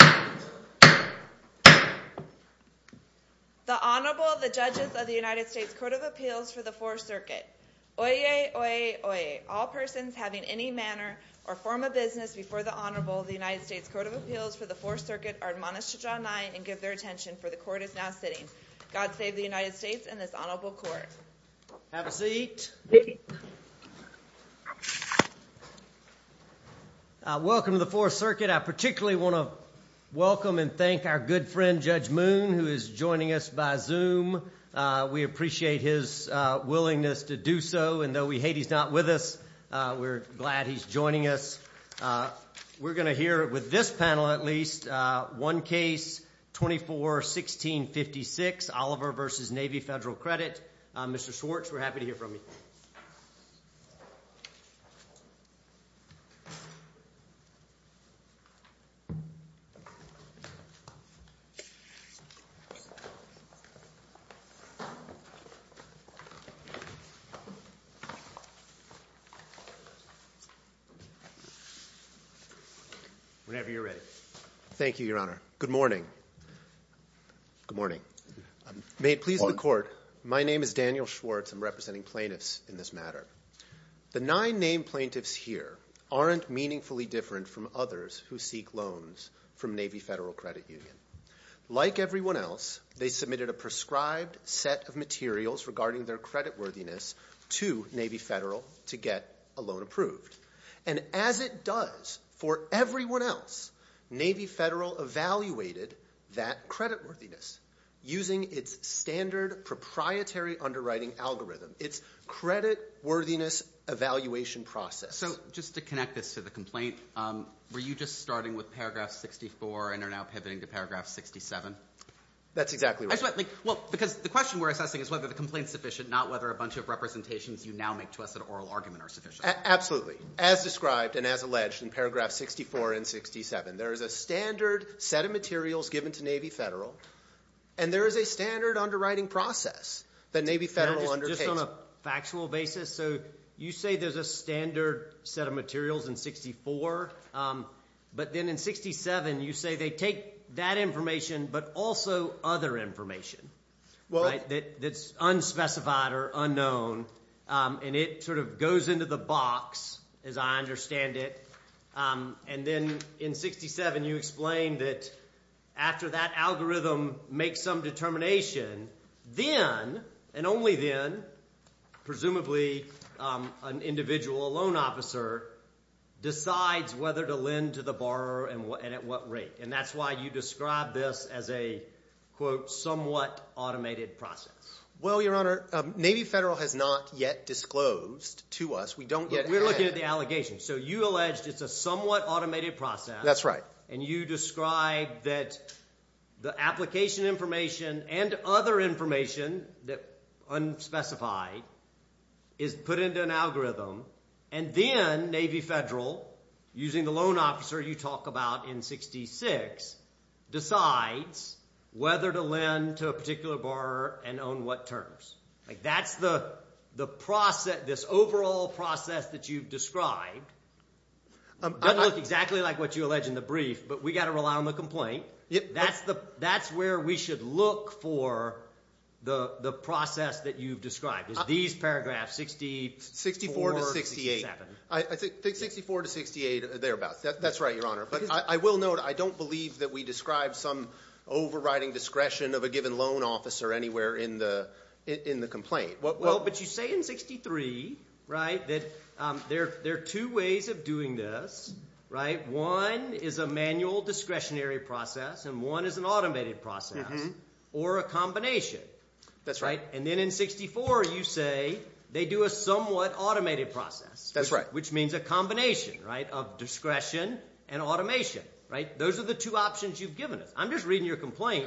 The Honorable, the Judges of the United States Court of Appeals for the Fourth Circuit. Oyez, oyez, oyez. All persons having any manner or form of business before the Honorable of the United States Court of Appeals for the Fourth Circuit are admonished to draw nine and give their attention, for the Court is now sitting. God save the United States and this Honorable Court. Have a seat. Thank you. Welcome to the Fourth Circuit. I particularly want to welcome and thank our good friend, Judge Moon, who is joining us by Zoom. We appreciate his willingness to do so, and though we hate he's not with us, we're glad he's joining us. We're going to hear, with this panel at least, one case, 24-16-56, Oliver v. Navy Federal Credit. Mr. Schwartz, we're happy to hear from you. Whenever you're ready. Thank you, Your Honor. Good morning. Good morning. May it please the Court, my name is Daniel Schwartz. I'm representing plaintiffs in this matter. The nine named plaintiffs here aren't meaningfully different from others who seek loans from Navy Federal Credit Union. Like everyone else, they submitted a prescribed set of materials regarding their creditworthiness to Navy Federal to get a loan approved. And as it does for everyone else, Navy Federal evaluated that creditworthiness using its standard proprietary underwriting algorithm, its creditworthiness evaluation process. So just to connect this to the complaint, were you just starting with paragraph 64 and are now pivoting to paragraph 67? That's exactly right. Because the question we're assessing is whether the complaint is sufficient, not whether a bunch of representations you now make to us in an oral argument are sufficient. Absolutely. As described and as alleged in paragraph 64 and 67, there is a standard set of materials given to Navy Federal, and there is a standard underwriting process that Navy Federal undertakes. Just on a factual basis, so you say there's a standard set of materials in 64, but then in 67 you say they take that information but also other information that's unspecified or unknown, and it sort of goes into the box, as I understand it. And then in 67 you explain that after that algorithm makes some determination, then and only then presumably an individual, a loan officer, decides whether to lend to the borrower and at what rate. And that's why you describe this as a, quote, somewhat automated process. Well, Your Honor, Navy Federal has not yet disclosed to us. We don't yet have. We're looking at the allegation. So you allege it's a somewhat automated process. That's right. And you describe that the application information and other information that's unspecified is put into an algorithm, and then Navy Federal, using the loan officer you talk about in 66, decides whether to lend to a particular borrower and on what terms. That's the process, this overall process that you've described. It doesn't look exactly like what you allege in the brief, but we've got to rely on the complaint. That's where we should look for the process that you've described is these paragraphs, 64 to 64. I think 64 to 68, thereabouts. That's right, Your Honor. But I will note I don't believe that we describe some overriding discretion of a given loan officer anywhere in the complaint. Well, but you say in 63, right, that there are two ways of doing this, right? One is a manual discretionary process and one is an automated process or a combination. That's right. And then in 64 you say they do a somewhat automated process. That's right. Which means a combination, right, of discretion and automation, right? Those are the two options you've given us. I'm just reading your complaint.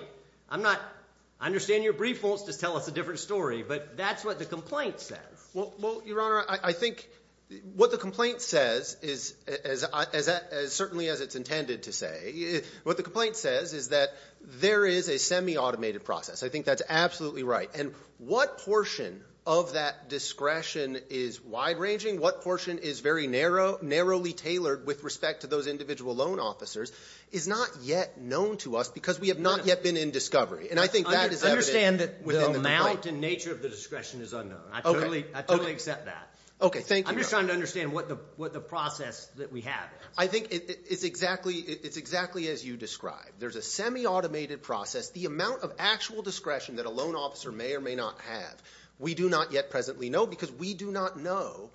I'm not – I understand your brief won't just tell us a different story, but that's what the complaint says. Well, Your Honor, I think what the complaint says is, certainly as it's intended to say, what the complaint says is that there is a semi-automated process. I think that's absolutely right. And what portion of that discretion is wide-ranging, what portion is very narrowly tailored with respect to those individual loan officers, is not yet known to us because we have not yet been in discovery. And I think that is evident within the complaint. I understand that the amount and nature of the discretion is unknown. I totally accept that. Okay, thank you, Your Honor. I'm just trying to understand what the process that we have is. I think it's exactly as you described. There's a semi-automated process. The amount of actual discretion that a loan officer may or may not have, we do not yet presently know because we do not know.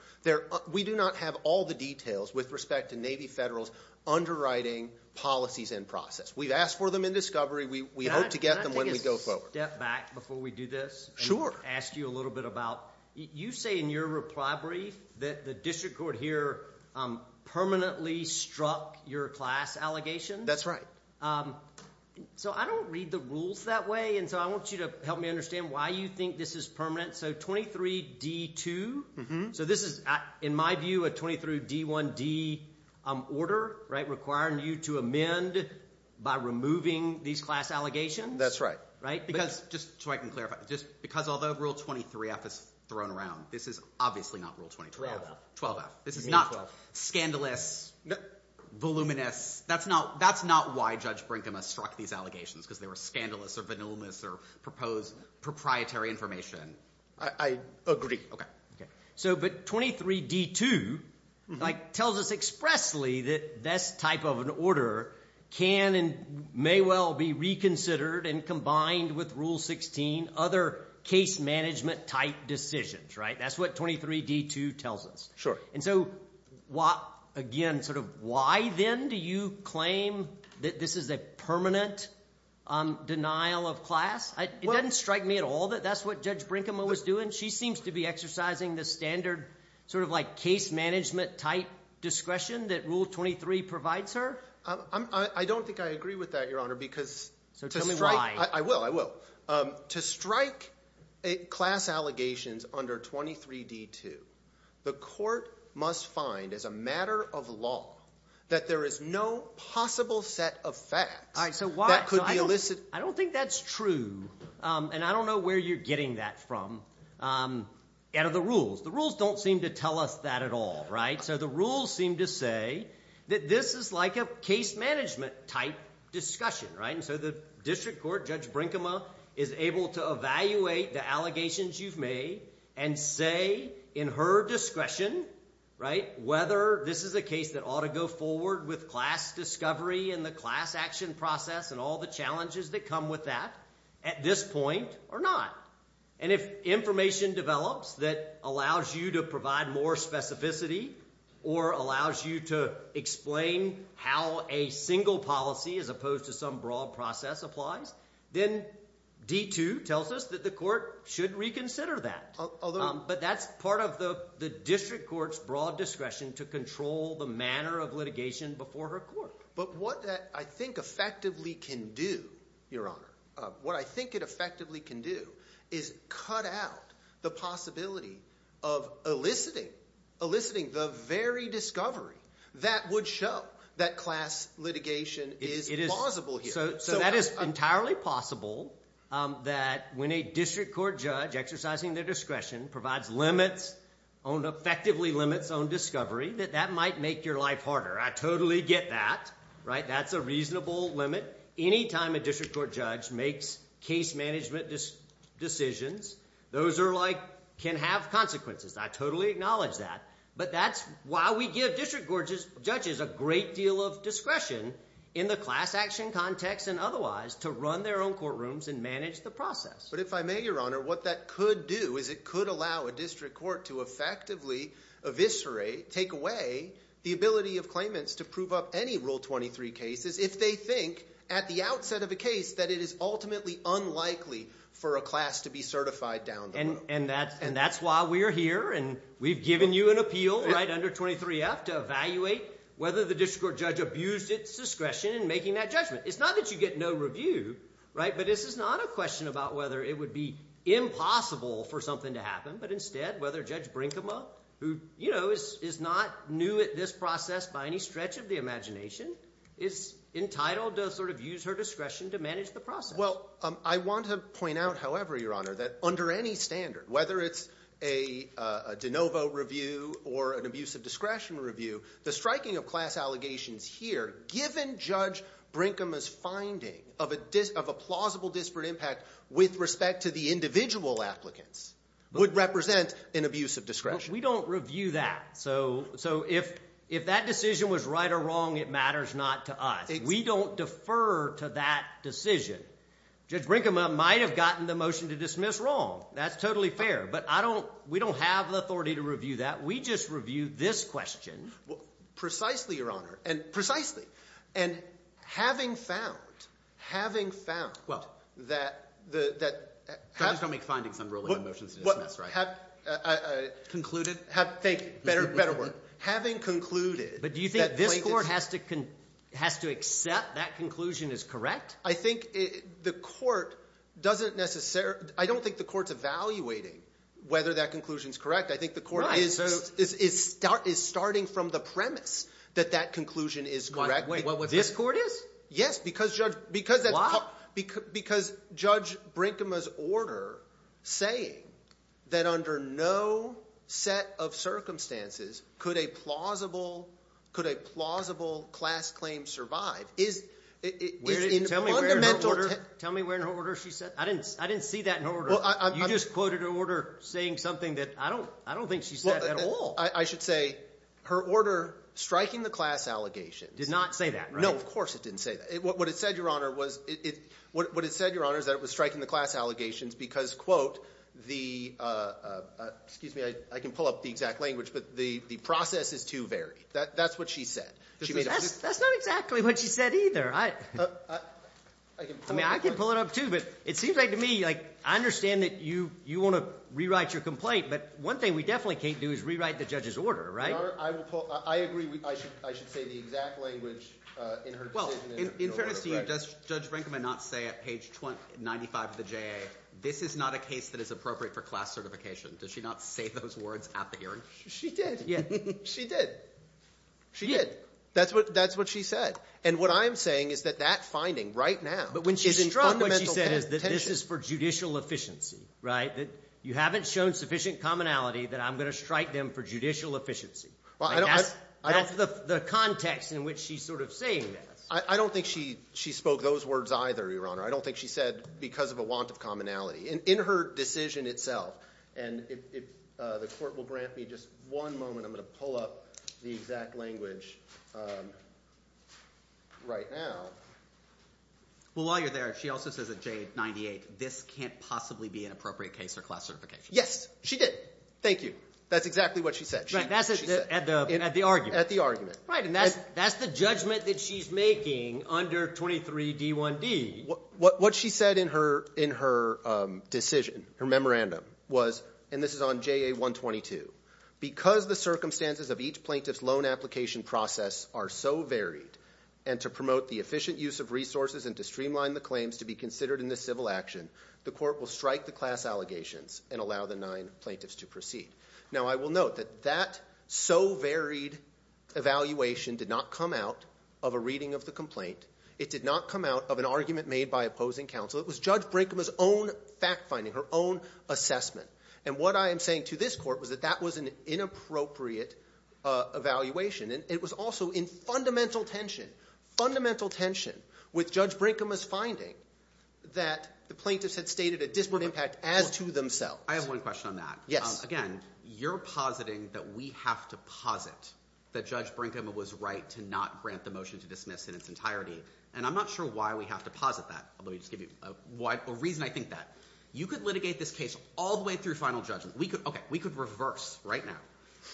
We do not have all the details with respect to Navy Federal's underwriting policies and process. We've asked for them in discovery. We hope to get them when we go forward. Can I take a step back before we do this? Sure. And ask you a little bit about – you say in your reply brief that the district court here permanently struck your class allegations. That's right. So I don't read the rules that way, and so I want you to help me understand why you think this is permanent. So 23D2, so this is, in my view, a 23D1D order requiring you to amend by removing these class allegations. That's right. Just so I can clarify, because although Rule 23F is thrown around, this is obviously not Rule 23F. 12F. This is not scandalous, voluminous. That's not why Judge Brinkman struck these allegations, because they were scandalous or voluminous or proposed proprietary information. I agree. But 23D2 tells us expressly that this type of an order can and may well be reconsidered and combined with Rule 16, other case management-type decisions. That's what 23D2 tells us. Sure. And so, again, sort of why then do you claim that this is a permanent denial of class? It doesn't strike me at all that that's what Judge Brinkman was doing. She seems to be exercising the standard sort of like case management-type discretion that Rule 23 provides her. I don't think I agree with that, Your Honor, because to strike – So tell me why. I will. I will. To strike class allegations under 23D2, the court must find as a matter of law that there is no possible set of facts that could be elicited. I don't think that's true, and I don't know where you're getting that from out of the rules. The rules don't seem to tell us that at all, right? So the rules seem to say that this is like a case management-type discussion, right? So the district court, Judge Brinkman, is able to evaluate the allegations you've made and say in her discretion, right, whether this is a case that ought to go forward with class discovery and the class action process and all the challenges that come with that at this point or not. And if information develops that allows you to provide more specificity or allows you to explain how a single policy as opposed to some broad process applies, then D2 tells us that the court should reconsider that. Although – But that's part of the district court's broad discretion to control the manner of litigation before her court. But what that I think effectively can do, Your Honor, what I think it effectively can do is cut out the possibility of eliciting the very discovery that would show that class litigation is plausible here. So that is entirely possible that when a district court judge exercising their discretion provides limits on – effectively limits on discovery, that that might make your life harder. I totally get that, right? That's a reasonable limit. Anytime a district court judge makes case management decisions, those are like – can have consequences. I totally acknowledge that, but that's why we give district court judges a great deal of discretion in the class action context and otherwise to run their own courtrooms and manage the process. But if I may, Your Honor, what that could do is it could allow a district court to effectively eviscerate, take away the ability of claimants to prove up any Rule 23 cases if they think at the outset of a case that it is ultimately unlikely for a class to be certified down the road. And that's why we're here, and we've given you an appeal under 23F to evaluate whether the district court judge abused its discretion in making that judgment. It's not that you get no review, but this is not a question about whether it would be impossible for something to happen, but instead whether Judge Brinkema, who is not new at this process by any stretch of the imagination, is entitled to sort of use her discretion to manage the process. Well, I want to point out, however, Your Honor, that under any standard, whether it's a de novo review or an abuse of discretion review, the striking of class allegations here, given Judge Brinkema's finding of a plausible disparate impact with respect to the individual applicants, would represent an abuse of discretion. So if that decision was right or wrong, it matters not to us. We don't defer to that decision. Judge Brinkema might have gotten the motion to dismiss wrong. That's totally fair. But we don't have the authority to review that. We just review this question. Precisely, Your Honor, and precisely. And having found, having found that the… Don't make findings. I'm ruling on motions to dismiss, right? Concluded? Thank you. Better word. Having concluded… But do you think this court has to accept that conclusion is correct? I think the court doesn't necessarily… I don't think the court's evaluating whether that conclusion is correct. I think the court is starting from the premise that that conclusion is correct. This court is? Yes, because Judge Brinkema's order saying that under no set of circumstances could a plausible class claim survive is in fundamental… Tell me where in her order she said… I didn't see that in her order. You just quoted her order saying something that I don't think she said at all. I should say her order striking the class allegations… Did not say that, right? No, of course it didn't say that. What it said, Your Honor, is that it was striking the class allegations because, quote, the… Excuse me, I can pull up the exact language, but the process is too varied. That's what she said. That's not exactly what she said either. I can pull it up. I understand that you want to rewrite your complaint, but one thing we definitely can't do is rewrite the judge's order, right? Your Honor, I agree I should say the exact language in her decision. In fairness to you, does Judge Brinkema not say at page 95 of the JA, this is not a case that is appropriate for class certification? Does she not say those words at the hearing? She did. She did. She did. That's what she said. And what I'm saying is that that finding right now is in fundamental tension. But what she said is that this is for judicial efficiency, right? That you haven't shown sufficient commonality that I'm going to strike them for judicial efficiency. That's the context in which she's sort of saying this. I don't think she spoke those words either, Your Honor. I don't think she said because of a want of commonality. In her decision itself, and if the court will grant me just one moment, I'm going to pull up the exact language right now. Well, while you're there, she also says at JA 98, this can't possibly be an appropriate case for class certification. Yes, she did. Thank you. That's exactly what she said. At the argument. At the argument. Right, and that's the judgment that she's making under 23D1D. What she said in her decision, her memorandum was, and this is on JA 122, because the circumstances of each plaintiff's loan application process are so varied and to promote the efficient use of resources and to streamline the claims to be considered in this civil action, the court will strike the class allegations and allow the nine plaintiffs to proceed. Now, I will note that that so varied evaluation did not come out of a reading of the complaint. It did not come out of an argument made by opposing counsel. It was Judge Brinkham's own fact finding, her own assessment, and what I am saying to this court was that that was an inappropriate evaluation, and it was also in fundamental tension, fundamental tension, with Judge Brinkham's finding that the plaintiffs had stated a disparate impact as to themselves. I have one question on that. Yes. Again, you're positing that we have to posit that Judge Brinkham was right to not grant the motion to dismiss in its entirety, and I'm not sure why we have to posit that. Let me just give you a reason I think that. You could litigate this case all the way through final judgment. Okay, we could reverse right now.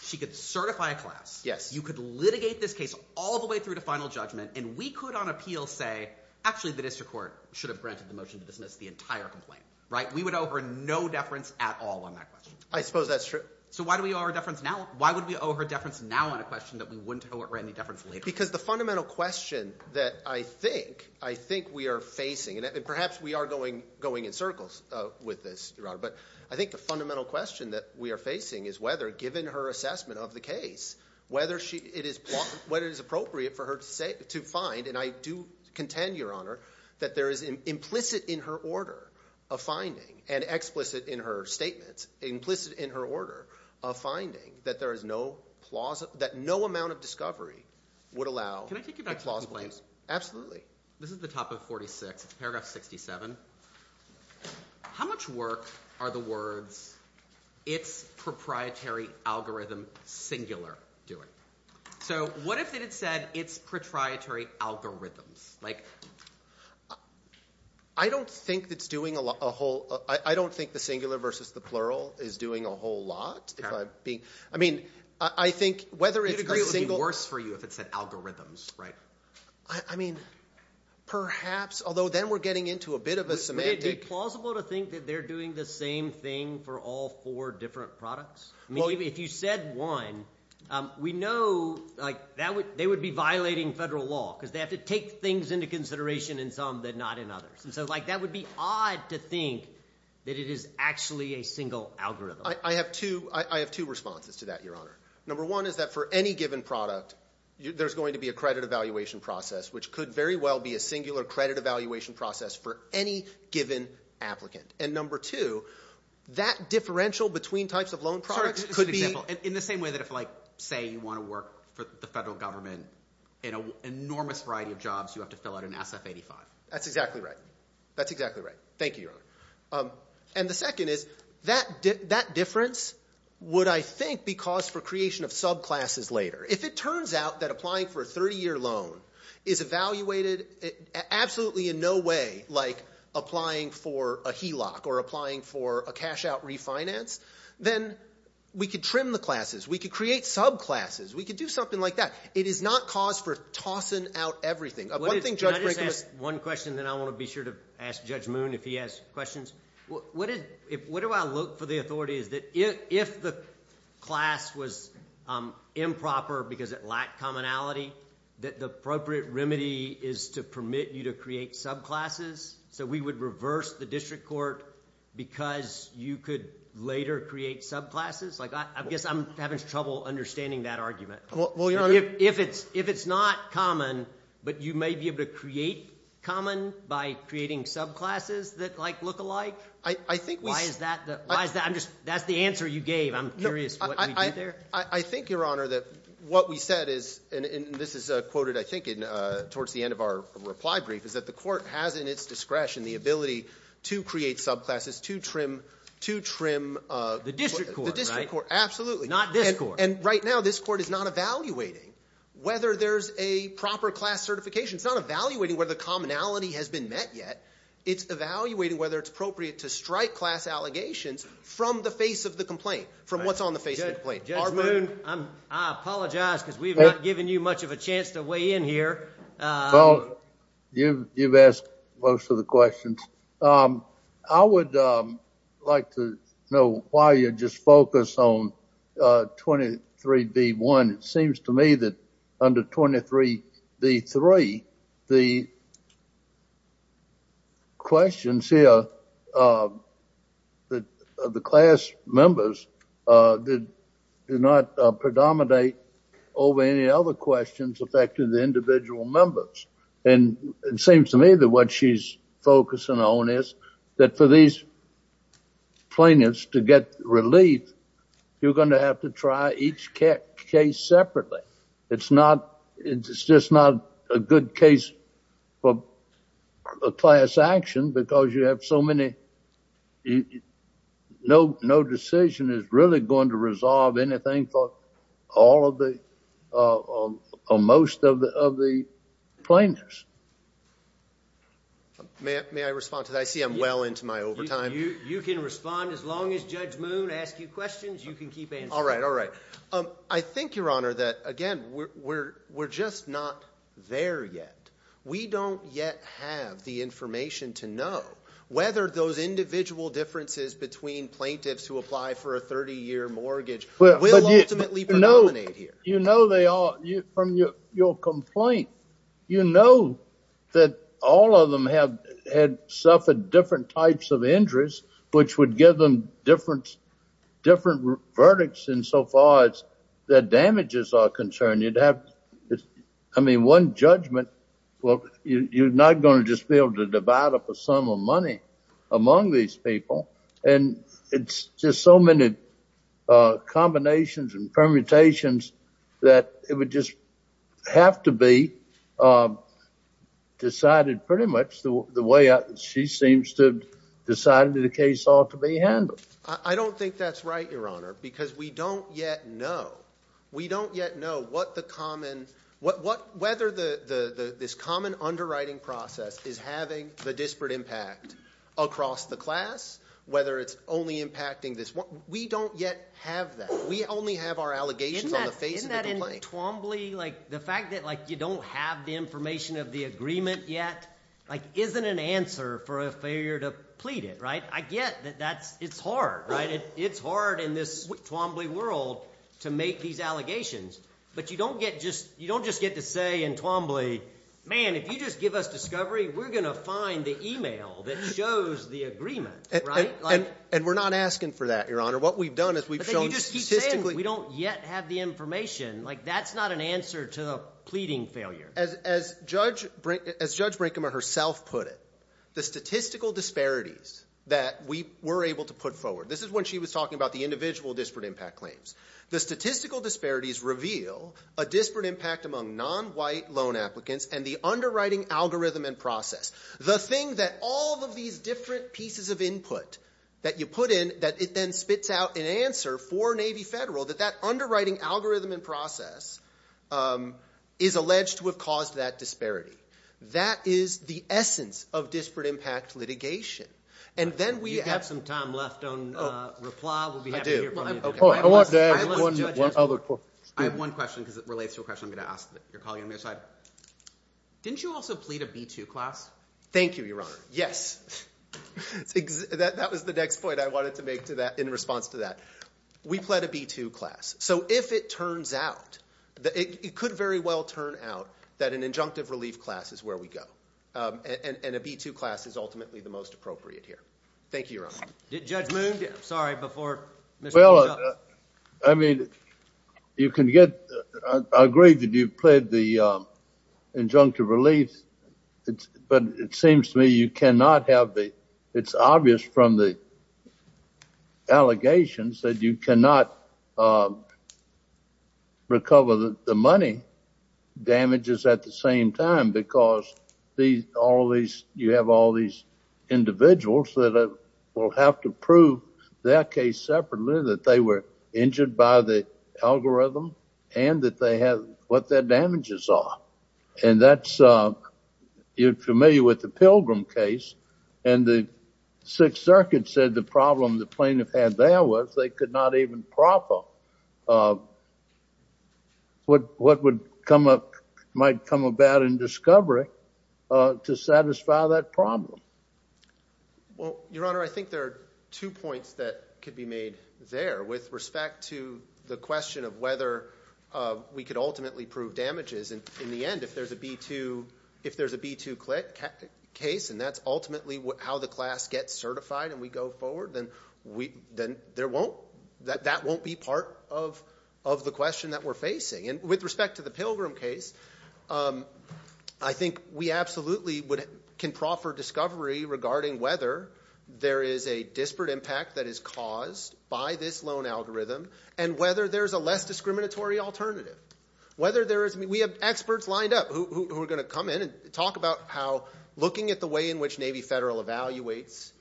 She could certify a class. Yes. You could litigate this case all the way through to final judgment, and we could on appeal say, actually, the district court should have granted the motion to dismiss the entire complaint. Right? We would owe her no deference at all on that question. I suppose that's true. So why do we owe her deference now? Why would we owe her deference now on a question that we wouldn't owe her any deference later? Because the fundamental question that I think we are facing, and perhaps we are going in circles with this, Your Honor, but I think the fundamental question that we are facing is whether, given her assessment of the case, whether it is appropriate for her to find, and I do contend, Your Honor, that there is implicit in her order of finding and explicit in her statements, implicit in her order of finding that no amount of discovery would allow a plausible case. Absolutely. This is the top of 46. It's paragraph 67. How much work are the words, it's proprietary algorithm singular, doing? So what if it had said it's proprietary algorithms? I don't think it's doing a whole – I don't think the singular versus the plural is doing a whole lot. I mean, I think whether it's a single – It would be worse for you if it said algorithms, right? I mean, perhaps, although then we're getting into a bit of a semantic – Would it be plausible to think that they're doing the same thing for all four different products? I mean, if you said one, we know, like, they would be violating federal law because they have to take things into consideration in some but not in others. And so, like, that would be odd to think that it is actually a single algorithm. I have two responses to that, Your Honor. Number one is that for any given product, there's going to be a credit evaluation process, which could very well be a singular credit evaluation process for any given applicant. And number two, that differential between types of loan products could be – In the same way that if, like, say you want to work for the federal government in an enormous variety of jobs, you have to fill out an SF-85. That's exactly right. That's exactly right. Thank you, Your Honor. And the second is that difference would, I think, be cause for creation of subclasses later. If it turns out that applying for a 30-year loan is evaluated absolutely in no way like applying for a HELOC or applying for a cash-out refinance, then we could trim the classes. We could create subclasses. We could do something like that. It is not cause for tossing out everything. One thing Judge Brinkman – Can I just ask one question, and then I want to be sure to ask Judge Moon if he has questions? What do I look for the authority is that if the class was improper because it lacked commonality, that the appropriate remedy is to permit you to create subclasses, so we would reverse the district court because you could later create subclasses? I guess I'm having trouble understanding that argument. If it's not common, but you may be able to create common by creating subclasses that look alike? I think we – Why is that? That's the answer you gave. I'm curious what we did there. I think, Your Honor, that what we said is – and this is quoted, I think, towards the end of our reply brief – is that the court has in its discretion the ability to create subclasses, to trim – The district court, right? The district court, absolutely. Not this court. And right now, this court is not evaluating whether there's a proper class certification. It's not evaluating whether the commonality has been met yet. It's evaluating whether it's appropriate to strike class allegations from the face of the complaint, from what's on the face of the complaint. Judge Moon? I apologize because we've not given you much of a chance to weigh in here. Well, you've asked most of the questions. I would like to know why you just focused on 23B1. It seems to me that under 23B3, the questions here of the class members do not predominate over any other questions affecting the individual members. And it seems to me that what she's focusing on is that for these plaintiffs to get relief, you're going to have to try each case separately. It's just not a good case for class action because you have so many – no decision is really going to resolve anything for most of the plaintiffs. May I respond to that? I see I'm well into my overtime. You can respond as long as Judge Moon asks you questions. You can keep answering. All right, all right. I think, Your Honor, that again, we're just not there yet. We don't yet have the information to know whether those individual differences between plaintiffs who apply for a 30-year mortgage will ultimately predominate here. You know they all – from your complaint, you know that all of them had suffered different types of injuries which would give them different verdicts insofar as their damages are concerned. You'd have – I mean, one judgment, well, you're not going to just be able to divide up a sum of money among these people, and it's just so many combinations and permutations that it would just have to be decided pretty much the way she seems to have decided the case ought to be handled. I don't think that's right, Your Honor, because we don't yet know. We don't yet know what the common – whether this common underwriting process is having the disparate impact across the class, whether it's only impacting this – we don't yet have that. We only have our allegations on the face of the complaint. Isn't that in Twombly? Like the fact that you don't have the information of the agreement yet isn't an answer for a failure to plead it, right? I get that that's – it's hard, right? I get that it's hard in this Twombly world to make these allegations, but you don't get just – you don't just get to say in Twombly, man, if you just give us discovery, we're going to find the email that shows the agreement, right? And we're not asking for that, Your Honor. What we've done is we've shown statistically – But then you just keep saying we don't yet have the information. Like that's not an answer to a pleading failure. As Judge Brinkheimer herself put it, the statistical disparities that we were able to put forward – this is when she was talking about the individual disparate impact claims. The statistical disparities reveal a disparate impact among non-white loan applicants and the underwriting algorithm and process. The thing that all of these different pieces of input that you put in, that it then spits out an answer for Navy Federal, that that underwriting algorithm and process is alleged to have caused that disparity. That is the essence of disparate impact litigation. And then we have – Do you have some time left on reply? We'll be happy to hear from you. I want to add one other point. I have one question because it relates to a question I'm going to ask your colleague on the other side. Didn't you also plead a B-2 class? Thank you, Your Honor. Yes. That was the next point I wanted to make in response to that. We pled a B-2 class. So if it turns out – it could very well turn out that an injunctive relief class is where we go and a B-2 class is ultimately the most appropriate here. Thank you, Your Honor. Judge Moon? I'm sorry. Before Mr. Moon comes up. Well, I mean, you can get – I agree that you pled the injunctive relief, but it seems to me you cannot have the – it's obvious from the allegations that you cannot recover the money damages at the same time because all these – you have all these individuals that will have to prove their case separately, that they were injured by the algorithm, and that they have – what their damages are. And that's – you're familiar with the Pilgrim case, and the Sixth Circuit said the problem the plaintiff had there was they could not even proper what would come up – might come about in discovery to satisfy that problem. Well, Your Honor, I think there are two points that could be made there with respect to the question of whether we could ultimately prove damages. And in the end, if there's a B-2 – if there's a B-2 case and that's ultimately how the class gets certified and we go forward, then there won't – that won't be part of the question that we're facing. And with respect to the Pilgrim case, I think we absolutely can proffer discovery regarding whether there is a disparate impact that is caused by this loan algorithm and whether there's a less discriminatory alternative. Whether there is – we have experts lined up who are going to come in and talk about how looking at the way in which Navy Federal evaluates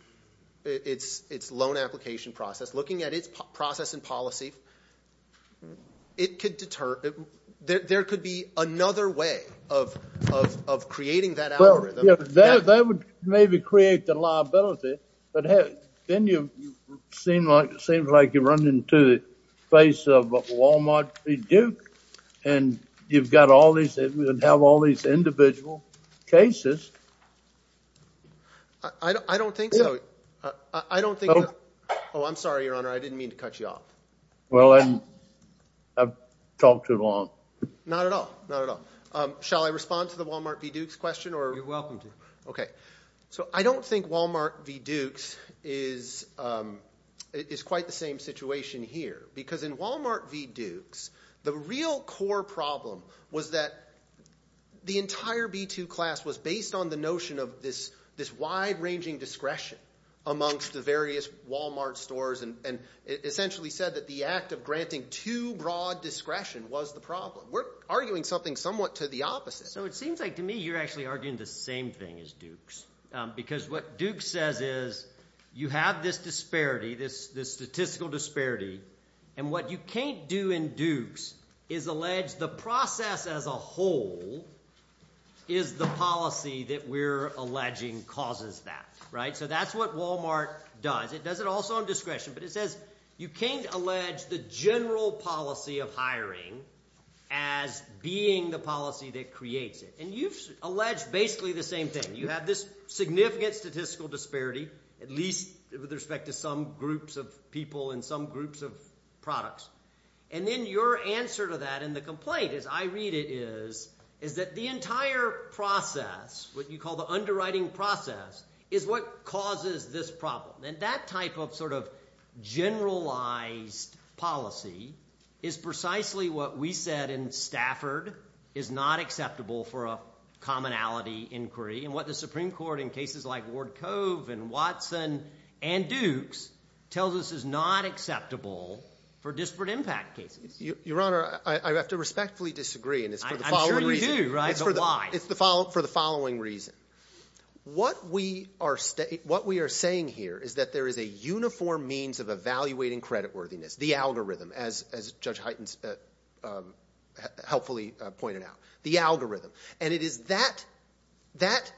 its loan application process, looking at its process and policy, it could deter – there could be another way of creating that algorithm. Well, yeah, that would maybe create the liability, but then you seem like you're running into the face of a Wal-Mart pre-Duke and you've got all these – and have all these individual cases. I don't think so. I don't think – oh, I'm sorry, Your Honor. I didn't mean to cut you off. Well, I've talked too long. Not at all. Not at all. Shall I respond to the Wal-Mart v. Dukes question or – You're welcome to. Okay. So I don't think Wal-Mart v. Dukes is quite the same situation here because in Wal-Mart v. Dukes, the real core problem was that the entire B-2 class was based on the notion of this wide-ranging discretion amongst the various Wal-Mart stores and essentially said that the act of granting too broad discretion was the problem. We're arguing something somewhat to the opposite. So it seems like to me you're actually arguing the same thing as Dukes because what Dukes says is you have this disparity, this statistical disparity, and what you can't do in Dukes is allege the process as a whole is the policy that we're alleging causes that. So that's what Wal-Mart does. It does it also on discretion, but it says you can't allege the general policy of hiring as being the policy that creates it. And you've alleged basically the same thing. You have this significant statistical disparity, at least with respect to some groups of people and some groups of products. And then your answer to that in the complaint as I read it is that the entire process, what you call the underwriting process, is what causes this problem. And that type of sort of generalized policy is precisely what we said in Stafford is not acceptable for a commonality inquiry and what the Supreme Court in cases like Ward Cove and Watson and Dukes tells us is not acceptable for disparate impact cases. Your Honor, I have to respectfully disagree. I'm sure you do, but why? It's for the following reason. What we are saying here is that there is a uniform means of evaluating creditworthiness, the algorithm, as Judge Hyten helpfully pointed out, the algorithm. And it is that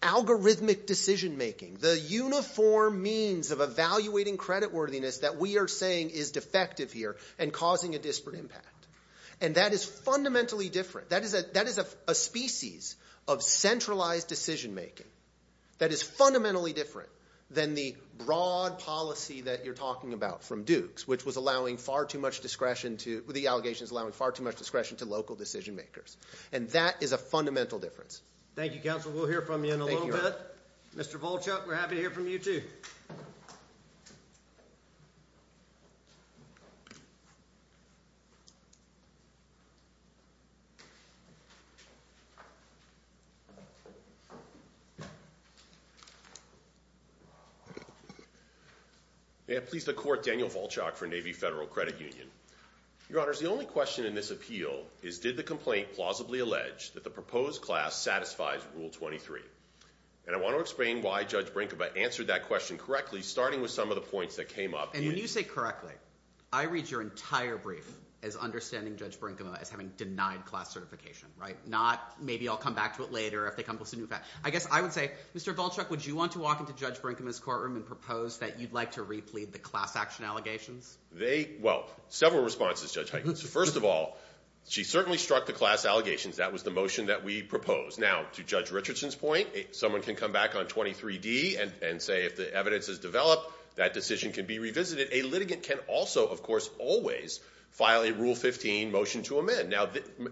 algorithmic decision-making, the uniform means of evaluating creditworthiness that we are saying is defective here and causing a disparate impact. And that is fundamentally different. That is a species of centralized decision-making that is fundamentally different than the broad policy that you're talking about from Dukes, which was allowing far too much discretion to local decision-makers. And that is a fundamental difference. Thank you, Counsel. We'll hear from you in a little bit. Mr. Volchuk, we're happy to hear from you too. May it please the Court, Daniel Volchuk for Navy Federal Credit Union. Your Honors, the only question in this appeal is did the complaint plausibly allege that the proposed class satisfies Rule 23? And I want to explain why Judge Brinkma answered that question correctly, starting with some of the points that came up. And when you say correctly, I read your entire brief as understanding Judge Brinkma as having denied class certification, right? Not maybe I'll come back to it later if they come up with some new facts. But I guess I would say, Mr. Volchuk, would you want to walk into Judge Brinkma's courtroom and propose that you'd like to replete the class action allegations? Well, several responses, Judge Huygens. First of all, she certainly struck the class allegations. That was the motion that we proposed. Now, to Judge Richardson's point, someone can come back on 23-D and say if the evidence is developed, that decision can be revisited. A litigant can also, of course, always file a Rule 15 motion to amend.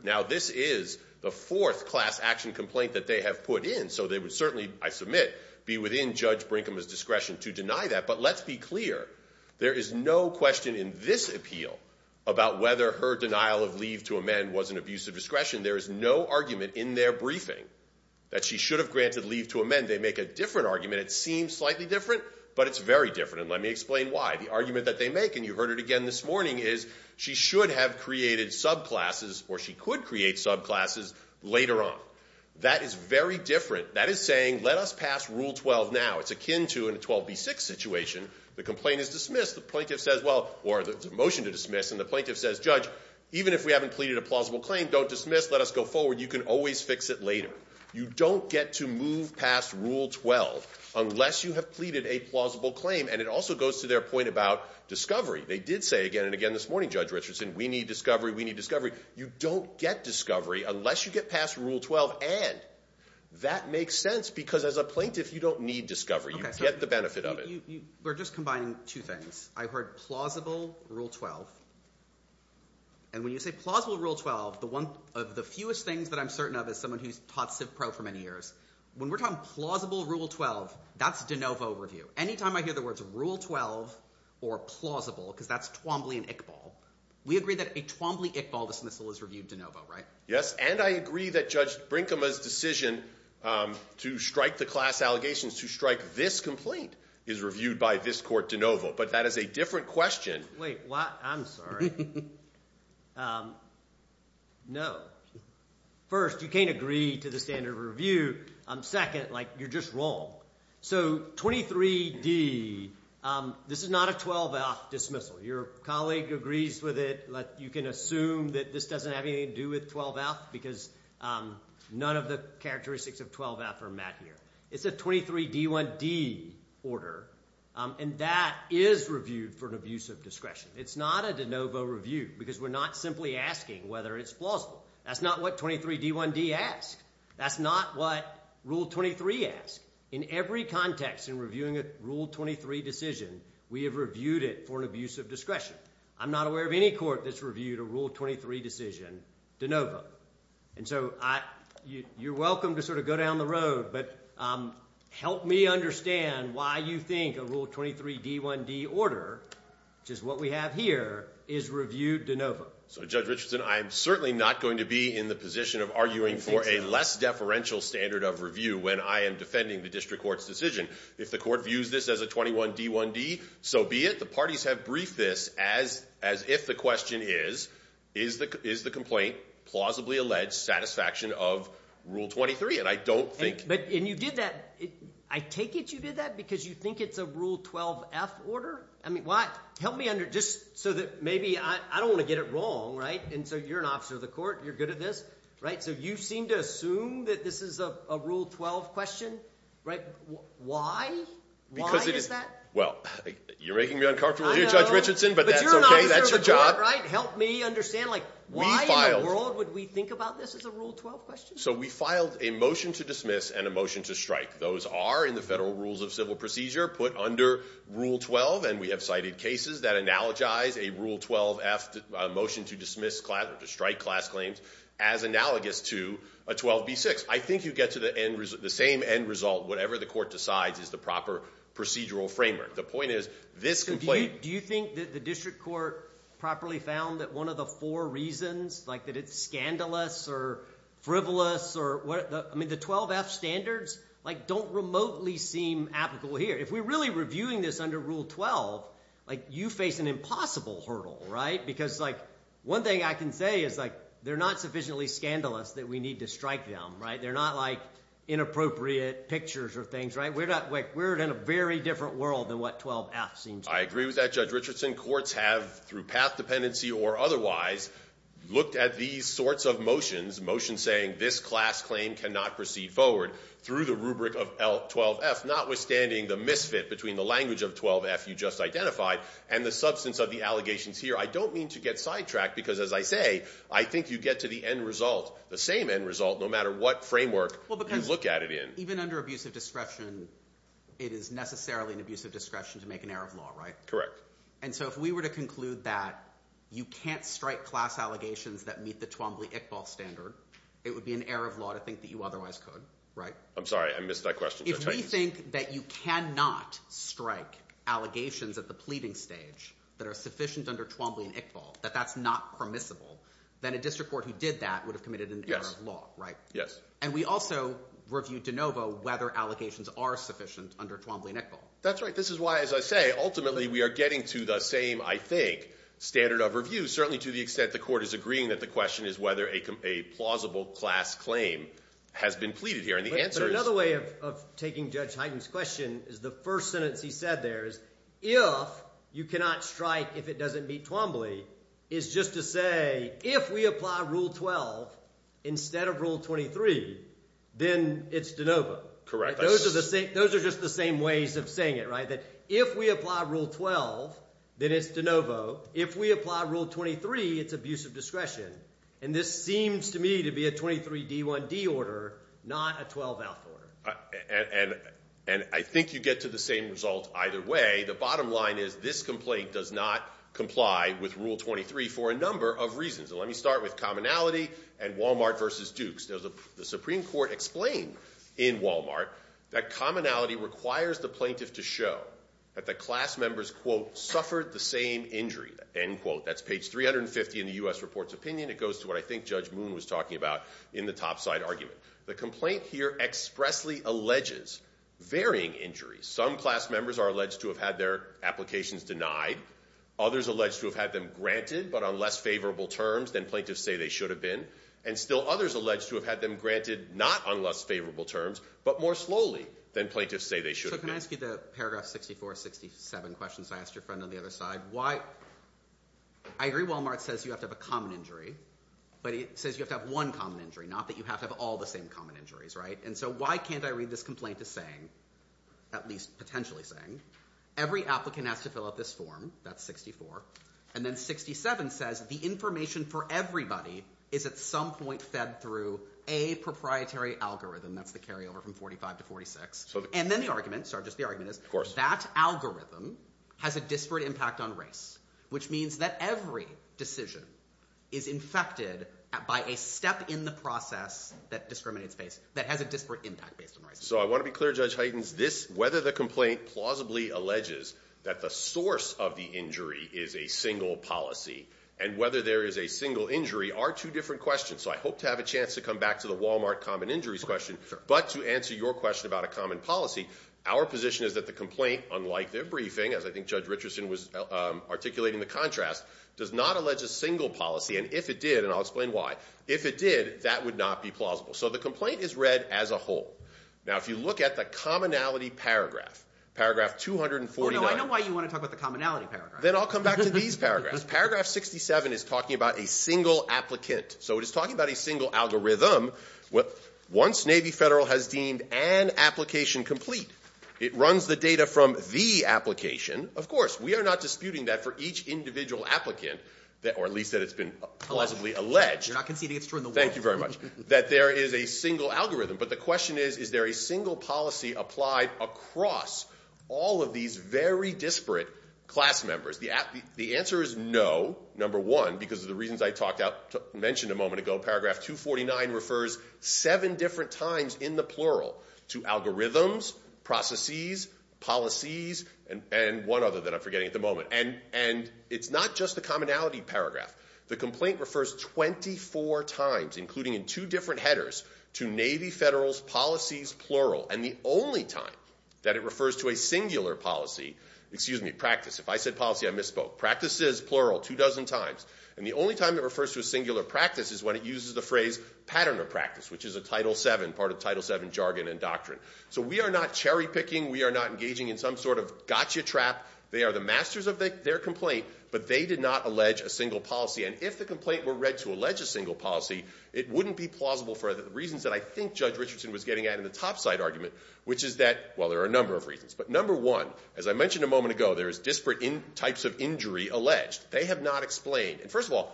Now, this is the fourth class action complaint that they have put in, so they would certainly, I submit, be within Judge Brinkma's discretion to deny that. But let's be clear. There is no question in this appeal about whether her denial of leave to amend was an abuse of discretion. There is no argument in their briefing that she should have granted leave to amend. They make a different argument. It seems slightly different, but it's very different. And let me explain why. The argument that they make, and you heard it again this morning, is she should have created subclasses or she could create subclasses later on. That is very different. That is saying let us pass Rule 12 now. It's akin to in a 12B6 situation, the complaint is dismissed, the plaintiff says, well, or the motion to dismiss, and the plaintiff says, Judge, even if we haven't pleaded a plausible claim, don't dismiss, let us go forward. You can always fix it later. You don't get to move past Rule 12 unless you have pleaded a plausible claim. And it also goes to their point about discovery. They did say again and again this morning, Judge Richardson, we need discovery, we need discovery. You don't get discovery unless you get past Rule 12. And that makes sense because as a plaintiff, you don't need discovery. You get the benefit of it. We're just combining two things. I heard plausible Rule 12. And when you say plausible Rule 12, the one of the fewest things that I'm certain of is someone who's taught CivPro for many years. When we're talking plausible Rule 12, that's de novo review. Anytime I hear the words Rule 12 or plausible, because that's Twombly and Iqbal, we agree that a Twombly-Iqbal dismissal is reviewed de novo, right? Yes, and I agree that Judge Brinkema's decision to strike the class allegations to strike this complaint is reviewed by this court de novo. But that is a different question. Wait, what? I'm sorry. No. First, you can't agree to the standard of review. Second, you're just wrong. So 23D, this is not a 12F dismissal. Your colleague agrees with it. You can assume that this doesn't have anything to do with 12F because none of the characteristics of 12F are met here. It's a 23D1D order, and that is reviewed for an abuse of discretion. It's not a de novo review because we're not simply asking whether it's plausible. That's not what 23D1D asks. That's not what Rule 23 asks. In every context in reviewing a Rule 23 decision, we have reviewed it for an abuse of discretion. I'm not aware of any court that's reviewed a Rule 23 decision de novo. And so you're welcome to sort of go down the road, but help me understand why you think a Rule 23D1D order, which is what we have here, is reviewed de novo. So Judge Richardson, I am certainly not going to be in the position of arguing for a less deferential standard of review when I am defending the district court's decision. If the court views this as a 21D1D, so be it. The parties have briefed this as if the question is, is the complaint plausibly alleged satisfaction of Rule 23? And I don't think— And you did that—I take it you did that because you think it's a Rule 12F order? I mean, why—help me under—just so that maybe—I don't want to get it wrong, right? And so you're an officer of the court. You're good at this, right? So you seem to assume that this is a Rule 12 question, right? Why? Why is that? Well, you're making me uncomfortable here, Judge Richardson, but that's okay. But you're an officer of the court, right? Help me understand, like, why in the world would we think about this as a Rule 12 question? So we filed a motion to dismiss and a motion to strike. Those are in the Federal Rules of Civil Procedure put under Rule 12, and we have cited cases that analogize a Rule 12F motion to dismiss class— or to strike class claims as analogous to a 12B6. I think you get to the end—the same end result, whatever the court decides, is the proper procedural framework. The point is, this complaint— So do you think that the district court properly found that one of the four reasons, like, that it's scandalous or frivolous or— I mean, the 12F standards, like, don't remotely seem applicable here. If we're really reviewing this under Rule 12, like, you face an impossible hurdle, right? Because, like, one thing I can say is, like, they're not sufficiently scandalous that we need to strike them, right? They're not, like, inappropriate pictures or things, right? We're in a very different world than what 12F seems to be. I agree with that, Judge Richardson. Courts have, through path dependency or otherwise, looked at these sorts of motions, motions saying this class claim cannot proceed forward through the rubric of 12F, notwithstanding the misfit between the language of 12F you just identified and the substance of the allegations here. I don't mean to get sidetracked because, as I say, I think you get to the end result, the same end result, no matter what framework you look at it in. Even under abusive discretion, it is necessarily an abusive discretion to make an error of law, right? Correct. And so if we were to conclude that you can't strike class allegations that meet the Twombly-Iqbal standard, it would be an error of law to think that you otherwise could, right? I'm sorry. I missed that question. If we think that you cannot strike allegations at the pleading stage that are sufficient under Twombly and Iqbal, that that's not permissible, then a district court who did that would have committed an error of law, right? Yes. And we also reviewed de novo whether allegations are sufficient under Twombly and Iqbal. That's right. This is why, as I say, ultimately we are getting to the same, I think, standard of review, certainly to the extent the court is agreeing that the question is whether a plausible class claim has been pleaded here. And the answer is— But another way of taking Judge Hyten's question is the first sentence he said there is if you cannot strike if it doesn't meet Twombly is just to say if we apply Rule 12 instead of Rule 23, then it's de novo. Correct. Those are just the same ways of saying it, right? That if we apply Rule 12, then it's de novo. If we apply Rule 23, it's abuse of discretion. And this seems to me to be a 23d1d order, not a 12-out order. And I think you get to the same result either way. The bottom line is this complaint does not comply with Rule 23 for a number of reasons. And let me start with commonality and Walmart versus Dukes. The Supreme Court explained in Walmart that commonality requires the plaintiff to show that the class members, quote, suffered the same injury, end quote. That's page 350 in the U.S. Report's opinion. It goes to what I think Judge Moon was talking about in the topside argument. The complaint here expressly alleges varying injuries. Some class members are alleged to have had their applications denied. Others alleged to have had them granted but on less favorable terms than plaintiffs say they should have been. And still others alleged to have had them granted not on less favorable terms but more slowly than plaintiffs say they should have been. So can I ask you the paragraph 64, 67 questions I asked your friend on the other side? I agree Walmart says you have to have a common injury, but it says you have to have one common injury, not that you have to have all the same common injuries, right? And so why can't I read this complaint as saying, at least potentially saying, every applicant has to fill out this form, that's 64, and then 67 says the information for everybody is at some point fed through a proprietary algorithm. That's the carryover from 45 to 46. And then the argument, sorry, just the argument is that algorithm has a disparate impact on race, which means that every decision is infected by a step in the process that discriminates, that has a disparate impact based on race. So I want to be clear, Judge Heitens, whether the complaint plausibly alleges that the source of the injury is a single policy and whether there is a single injury are two different questions. So I hope to have a chance to come back to the Walmart common injuries question, but to answer your question about a common policy, our position is that the complaint, unlike their briefing, as I think Judge Richardson was articulating the contrast, does not allege a single policy, and if it did, and I'll explain why, if it did, that would not be plausible. So the complaint is read as a whole. Now, if you look at the commonality paragraph, paragraph 249. Oh, no, I know why you want to talk about the commonality paragraph. Then I'll come back to these paragraphs. Paragraph 67 is talking about a single applicant. So it is talking about a single algorithm. Once Navy Federal has deemed an application complete, it runs the data from the application. Of course, we are not disputing that for each individual applicant, or at least that it's been plausibly alleged. You're not conceding it's true in the war. Thank you very much, that there is a single algorithm. But the question is, is there a single policy applied across all of these very disparate class members? The answer is no, number one, because of the reasons I mentioned a moment ago. Paragraph 249 refers seven different times in the plural to algorithms, processes, policies, and one other that I'm forgetting at the moment. And it's not just the commonality paragraph. The complaint refers 24 times, including in two different headers, to Navy Federal's policies plural. And the only time that it refers to a singular policy, excuse me, practice. If I said policy, I misspoke. Practices, plural, two dozen times. And the only time it refers to a singular practice is when it uses the phrase pattern of practice, which is a Title VII, part of Title VII jargon and doctrine. So we are not cherry-picking. We are not engaging in some sort of gotcha trap. They are the masters of their complaint, but they did not allege a single policy. And if the complaint were read to allege a single policy, it wouldn't be plausible for the reasons that I think Judge Richardson was getting at in the topside argument, which is that, well, there are a number of reasons. But number one, as I mentioned a moment ago, there is disparate types of injury alleged. They have not explained. And first of all,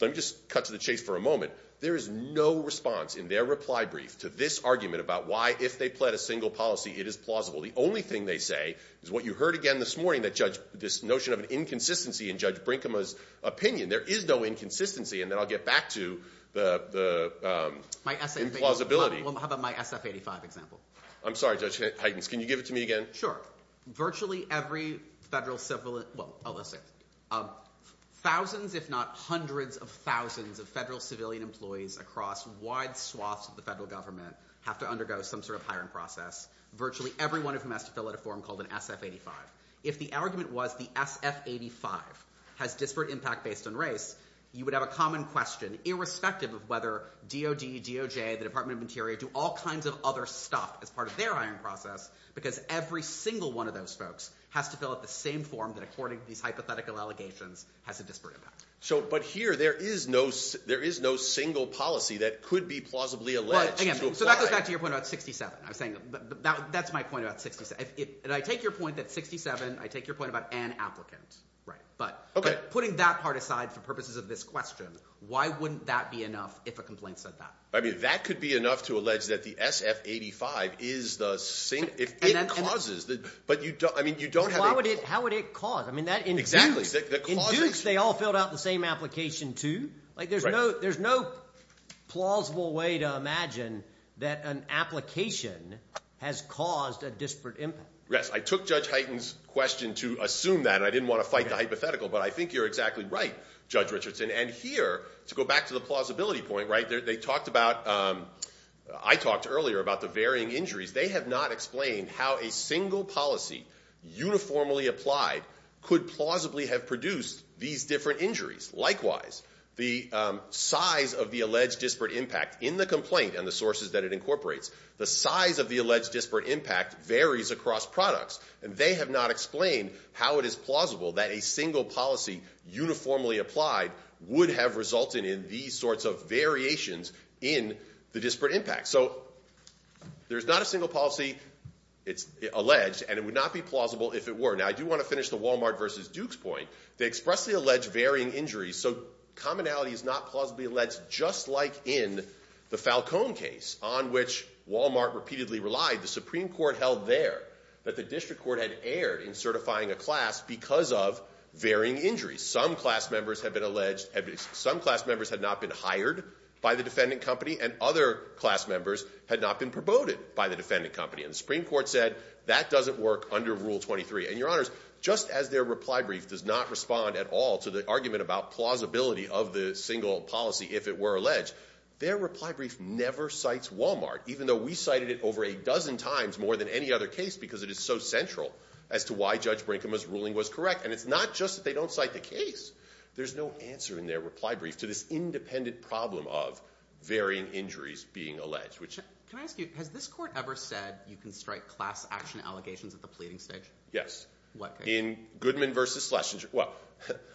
let me just cut to the chase for a moment. There is no response in their reply brief to this argument about why, if they pled a single policy, it is plausible. The only thing they say is what you heard again this morning, this notion of an inconsistency in Judge Brinkema's opinion. There is no inconsistency. And then I'll get back to the implausibility. Well, how about my SF-85 example? I'm sorry, Judge Huygens. Can you give it to me again? Sure. Virtually every federal civilian – well, thousands if not hundreds of thousands of federal civilian employees across wide swaths of the federal government have to undergo some sort of hiring process. Virtually everyone of them has to fill out a form called an SF-85. If the argument was the SF-85 has disparate impact based on race, you would have a common question, irrespective of whether DOD, DOJ, the Department of Interior do all kinds of other stuff as part of their hiring process, because every single one of those folks has to fill out the same form that, according to these hypothetical allegations, has a disparate impact. But here, there is no single policy that could be plausibly alleged to apply. Well, again, so that goes back to your point about 67. I was saying that's my point about 67. And I take your point that 67 – I take your point about an applicant. But putting that part aside for purposes of this question, why wouldn't that be enough if a complaint said that? I mean that could be enough to allege that the SF-85 is the same – if it causes – but you don't have a – How would it cause? Exactly. In Dukes, they all filled out the same application too. There's no plausible way to imagine that an application has caused a disparate impact. Yes, I took Judge Hyten's question to assume that, and I didn't want to fight the hypothetical, but I think you're exactly right, Judge Richardson. And here, to go back to the plausibility point, they talked about – I talked earlier about the varying injuries. They have not explained how a single policy uniformly applied could plausibly have produced these different injuries. Likewise, the size of the alleged disparate impact in the complaint and the sources that it incorporates, the size of the alleged disparate impact varies across products, and they have not explained how it is plausible that a single policy uniformly applied would have resulted in these sorts of variations in the disparate impact. So there's not a single policy. It's alleged, and it would not be plausible if it were. Now, I do want to finish the Walmart versus Dukes point. They expressly allege varying injuries, so commonality is not plausibly alleged, just like in the Falcone case on which Walmart repeatedly relied. The Supreme Court held there that the district court had erred in certifying a class because of varying injuries. Some class members had been alleged – some class members had not been hired by the defendant company, and other class members had not been promoted by the defendant company. And the Supreme Court said that doesn't work under Rule 23. And, Your Honors, just as their reply brief does not respond at all to the argument about plausibility of the single policy if it were alleged, their reply brief never cites Walmart, even though we cited it over a dozen times more than any other case because it is so central as to why Judge Brinkman's ruling was correct. And it's not just that they don't cite the case. There's no answer in their reply brief to this independent problem of varying injuries being alleged. Can I ask you, has this court ever said you can strike class action allegations at the pleading stage? Yes. In Goodman v. Schlesinger – well,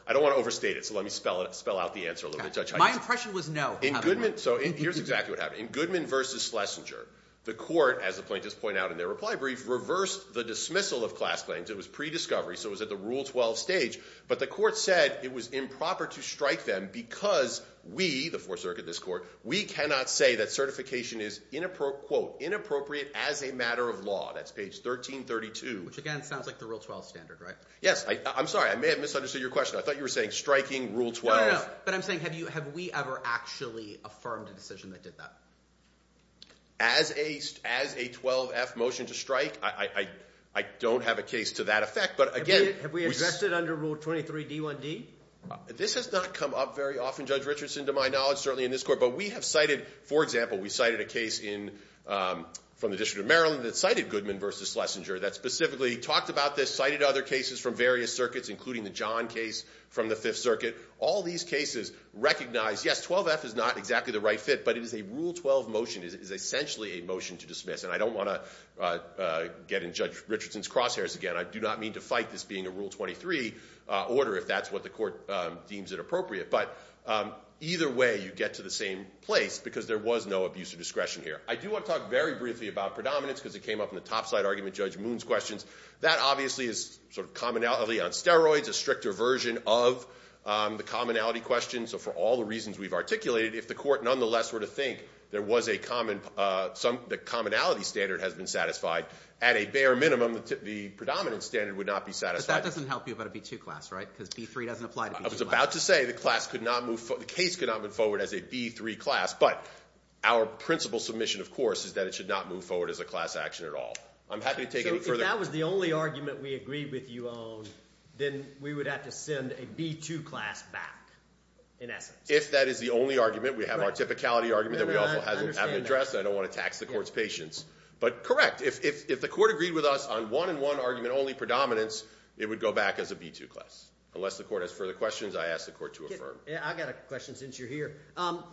I don't want to overstate it, so let me spell out the answer a little bit. My impression was no. So here's exactly what happened. In Goodman v. Schlesinger, the court, as the plaintiffs point out in their reply brief, reversed the dismissal of class claims. It was pre-discovery, so it was at the Rule 12 stage. But the court said it was improper to strike them because we, the Fourth Circuit, this court, we cannot say that certification is, quote, inappropriate as a matter of law. That's page 1332. Which, again, sounds like the Rule 12 standard, right? Yes. I'm sorry. I may have misunderstood your question. I thought you were saying striking Rule 12. No, no, no. But I'm saying have we ever actually affirmed a decision that did that? As a 12-F motion to strike, I don't have a case to that effect. Have we addressed it under Rule 23d1d? This has not come up very often, Judge Richardson, to my knowledge, certainly in this court. But we have cited, for example, we cited a case from the District of Maryland that cited Goodman v. Schlesinger that specifically talked about this, cited other cases from various circuits, including the John case from the Fifth Circuit. All these cases recognize, yes, 12-F is not exactly the right fit, but it is a Rule 12 motion, is essentially a motion to dismiss. And I don't want to get in Judge Richardson's crosshairs again. I do not mean to fight this being a Rule 23 order if that's what the court deems inappropriate. But either way, you get to the same place because there was no abuse of discretion here. I do want to talk very briefly about predominance because it came up in the topside argument, Judge Moon's questions. That obviously is sort of commonality on steroids, a stricter version of the commonality question. So for all the reasons we've articulated, if the court nonetheless were to think there was a common – the commonality standard has been satisfied, at a bare minimum, the predominance standard would not be satisfied. But that doesn't help you about a B-2 class, right, because B-3 doesn't apply to B-2 class. I was about to say the class could not move – the case could not move forward as a B-3 class, but our principal submission, of course, is that it should not move forward as a class action at all. I'm happy to take any further – So if that was the only argument we agreed with you on, then we would have to send a B-2 class back, in essence. If that is the only argument, we have our typicality argument that we also haven't addressed. I don't want to tax the court's patience. But correct, if the court agreed with us on one-and-one argument only predominance, it would go back as a B-2 class. Unless the court has further questions, I ask the court to affirm. I've got a question since you're here.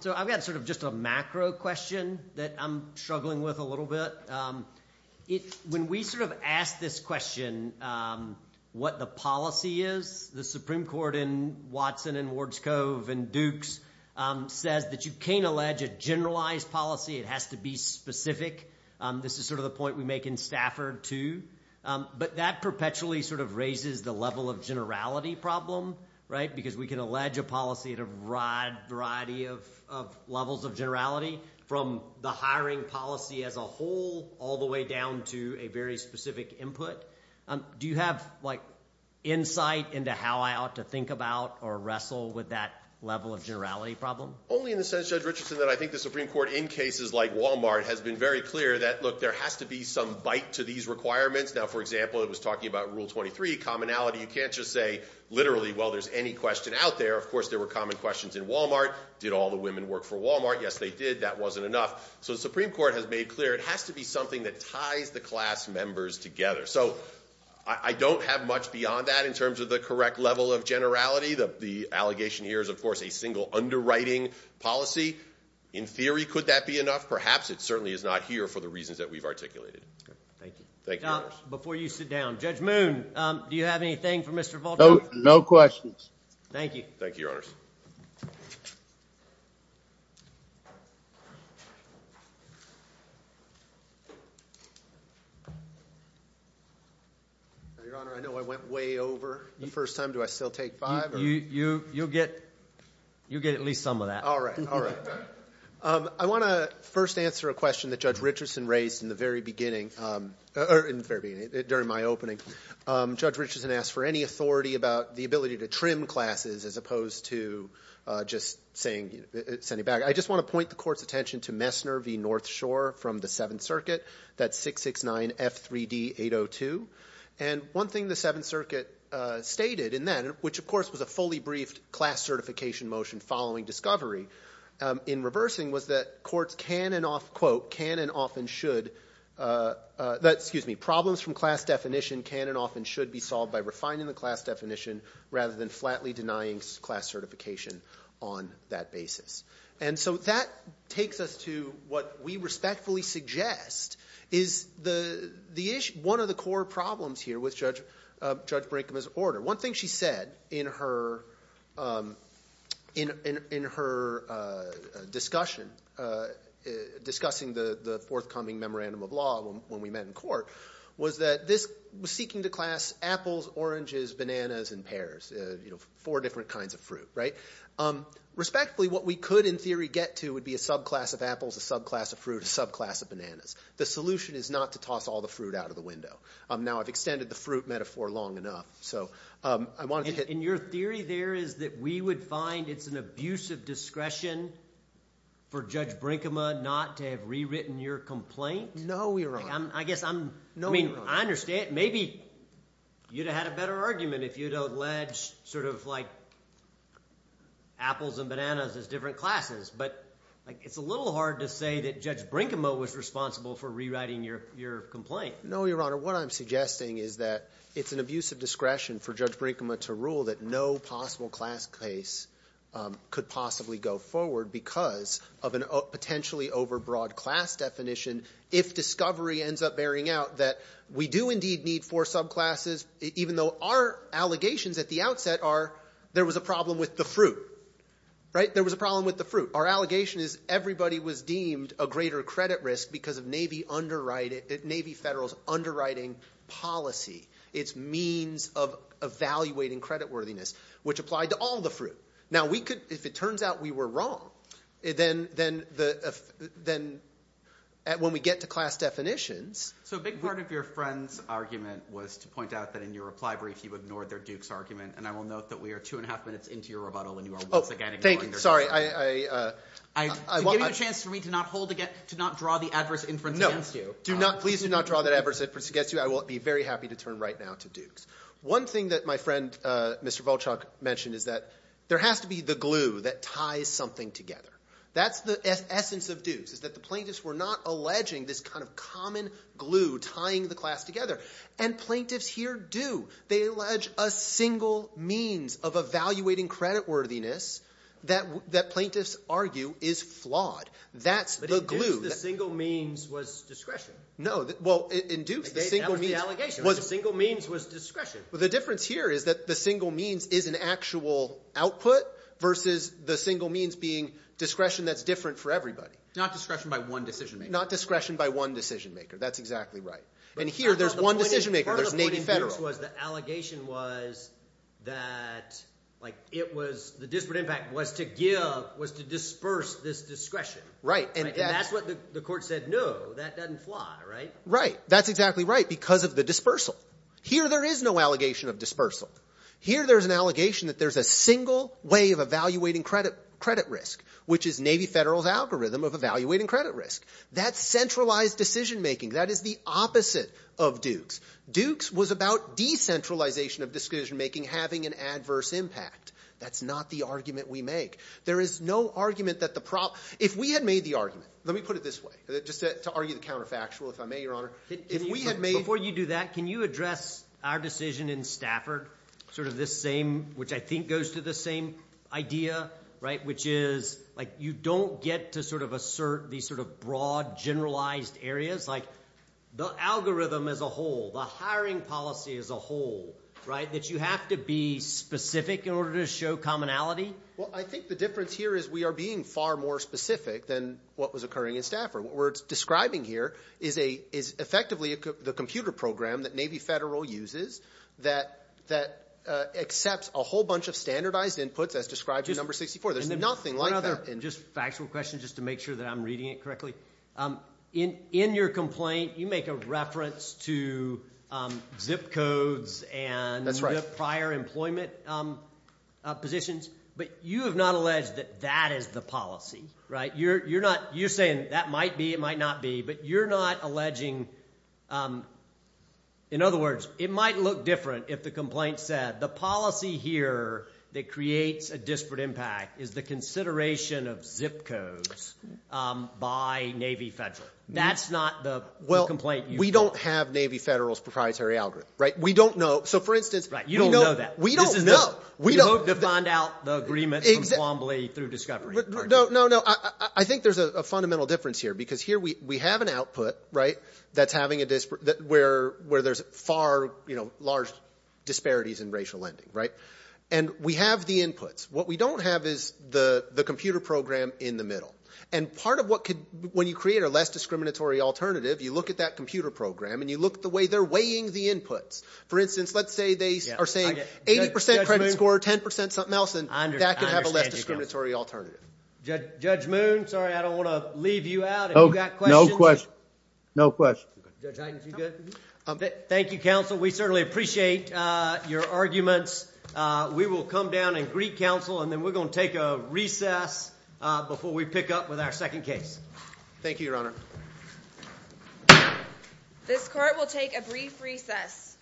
So I've got sort of just a macro question that I'm struggling with a little bit. When we sort of ask this question, what the policy is, the Supreme Court in Watson and Wards Cove and Dukes says that you can't allege a generalized policy. It has to be specific. This is sort of the point we make in Stafford, too. But that perpetually sort of raises the level of generality problem, right, because we can allege a policy at a variety of levels of generality, from the hiring policy as a whole all the way down to a very specific input. Do you have, like, insight into how I ought to think about or wrestle with that level of generality problem? Only in the sense, Judge Richardson, that I think the Supreme Court in cases like Walmart has been very clear that, look, there has to be some bite to these requirements. Now, for example, it was talking about Rule 23, commonality. You can't just say literally, well, there's any question out there. Of course, there were common questions in Walmart. Did all the women work for Walmart? Yes, they did. That wasn't enough. So the Supreme Court has made clear it has to be something that ties the class members together. So I don't have much beyond that in terms of the correct level of generality. The allegation here is, of course, a single underwriting policy. In theory, could that be enough? Perhaps it certainly is not here for the reasons that we've articulated. Thank you. Before you sit down, Judge Moon, do you have anything for Mr. Voldemort? No questions. Thank you. Thank you, Your Honors. Your Honor, I know I went way over the first time. Do I still take five? You'll get at least some of that. All right, all right. I want to first answer a question that Judge Richardson raised in the very beginning, or in the very beginning, during my opening. Judge Richardson asked for any authority about the ability to trim classes as opposed to just sending back. I just want to point the Court's attention to Messner v. North Shore from the Seventh Circuit, that 669F3D802. And one thing the Seventh Circuit stated in that, which, of course, was a fully briefed class certification motion following discovery, in reversing was that courts can and often should, excuse me, problems from class definition can and often should be solved by refining the class definition rather than flatly denying class certification on that basis. And so that takes us to what we respectfully suggest is one of the core problems here with Judge Brinkman's order. One thing she said in her discussion discussing the forthcoming memorandum of law when we met in court was that this was seeking to class apples, oranges, bananas, and pears, four different kinds of fruit. Respectfully, what we could in theory get to would be a subclass of apples, a subclass of fruit, a subclass of bananas. The solution is not to toss all the fruit out of the window. Now, I've extended the fruit metaphor long enough, so I wanted to hit— And your theory there is that we would find it's an abuse of discretion for Judge Brinkman not to have rewritten your complaint? No, Your Honor. I guess I'm— No, Your Honor. I understand. Maybe you'd have had a better argument if you had alleged sort of like apples and bananas as different classes. But it's a little hard to say that Judge Brinkman was responsible for rewriting your complaint. No, Your Honor. What I'm suggesting is that it's an abuse of discretion for Judge Brinkman to rule that no possible class case could possibly go forward because of a potentially overbroad class definition if discovery ends up bearing out that we do indeed need four subclasses, even though our allegations at the outset are there was a problem with the fruit. Right? There was a problem with the fruit. Our allegation is everybody was deemed a greater credit risk because of Navy Federal's underwriting policy, its means of evaluating creditworthiness, which applied to all the fruit. Now, if it turns out we were wrong, then when we get to class definitions— So a big part of your friend's argument was to point out that in your reply brief you ignored their duke's argument, and I will note that we are two and a half minutes into your rebuttal, and you are once again ignoring their— Thank you. To give you a chance for me to not draw the adverse inference against you— Please do not draw that adverse inference against you. I will be very happy to turn right now to Dukes. One thing that my friend Mr. Volchok mentioned is that there has to be the glue that ties something together. That's the essence of Dukes is that the plaintiffs were not alleging this kind of common glue tying the class together, and plaintiffs here do. They allege a single means of evaluating creditworthiness that plaintiffs argue is flawed. That's the glue. But in Dukes the single means was discretion. No. Well, in Dukes the single means— That was the allegation. The single means was discretion. The difference here is that the single means is an actual output versus the single means being discretion that's different for everybody. Not discretion by one decision maker. Not discretion by one decision maker. That's exactly right. And here there's one decision maker. There's Navy Federal. The difference was the allegation was that it was—the disparate impact was to disperse this discretion. Right. And that's what the court said, no, that doesn't fly, right? Right. That's exactly right because of the dispersal. Here there is no allegation of dispersal. Here there's an allegation that there's a single way of evaluating credit risk, which is Navy Federal's algorithm of evaluating credit risk. That's centralized decision making. That is the opposite of Dukes. Dukes was about decentralization of decision making having an adverse impact. That's not the argument we make. There is no argument that the—if we had made the argument, let me put it this way, just to argue the counterfactual, if I may, Your Honor. If we had made— Before you do that, can you address our decision in Stafford, sort of this same—which I think goes to the same idea, right, which is like you don't get to sort of assert these sort of broad, generalized areas. Like the algorithm as a whole, the hiring policy as a whole, right, that you have to be specific in order to show commonality? Well, I think the difference here is we are being far more specific than what was occurring in Stafford. What we're describing here is effectively the computer program that Navy Federal uses that accepts a whole bunch of standardized inputs as described in No. 64. There's nothing like that in— Just a factual question just to make sure that I'm reading it correctly. In your complaint, you make a reference to zip codes and— That's right. —prior employment positions, but you have not alleged that that is the policy, right? You're not—you're saying that might be, it might not be, but you're not alleging—in other words, it might look different if the complaint said, the policy here that creates a disparate impact is the consideration of zip codes by Navy Federal. That's not the complaint you— Well, we don't have Navy Federal's proprietary algorithm, right? We don't know. So, for instance— Right. You don't know that. We don't know. This is the— We don't— To find out the agreement from Quambly through Discovery. No, no, no. I think there's a fundamental difference here because here we have an output, right, that's having a disparate—where there's far, you know, large disparities in racial lending, right? And we have the inputs. What we don't have is the computer program in the middle. And part of what could—when you create a less discriminatory alternative, you look at that computer program and you look at the way they're weighing the inputs. For instance, let's say they are saying 80 percent credit score, 10 percent something else, and that could have a less discriminatory alternative. Judge Moon, sorry, I don't want to leave you out. If you've got questions— No questions. No questions. Judge Heintz, you good? Thank you, counsel. We certainly appreciate your arguments. We will come down and greet counsel, and then we're going to take a recess before we pick up with our second case. Thank you, Your Honor. This court will take a brief recess.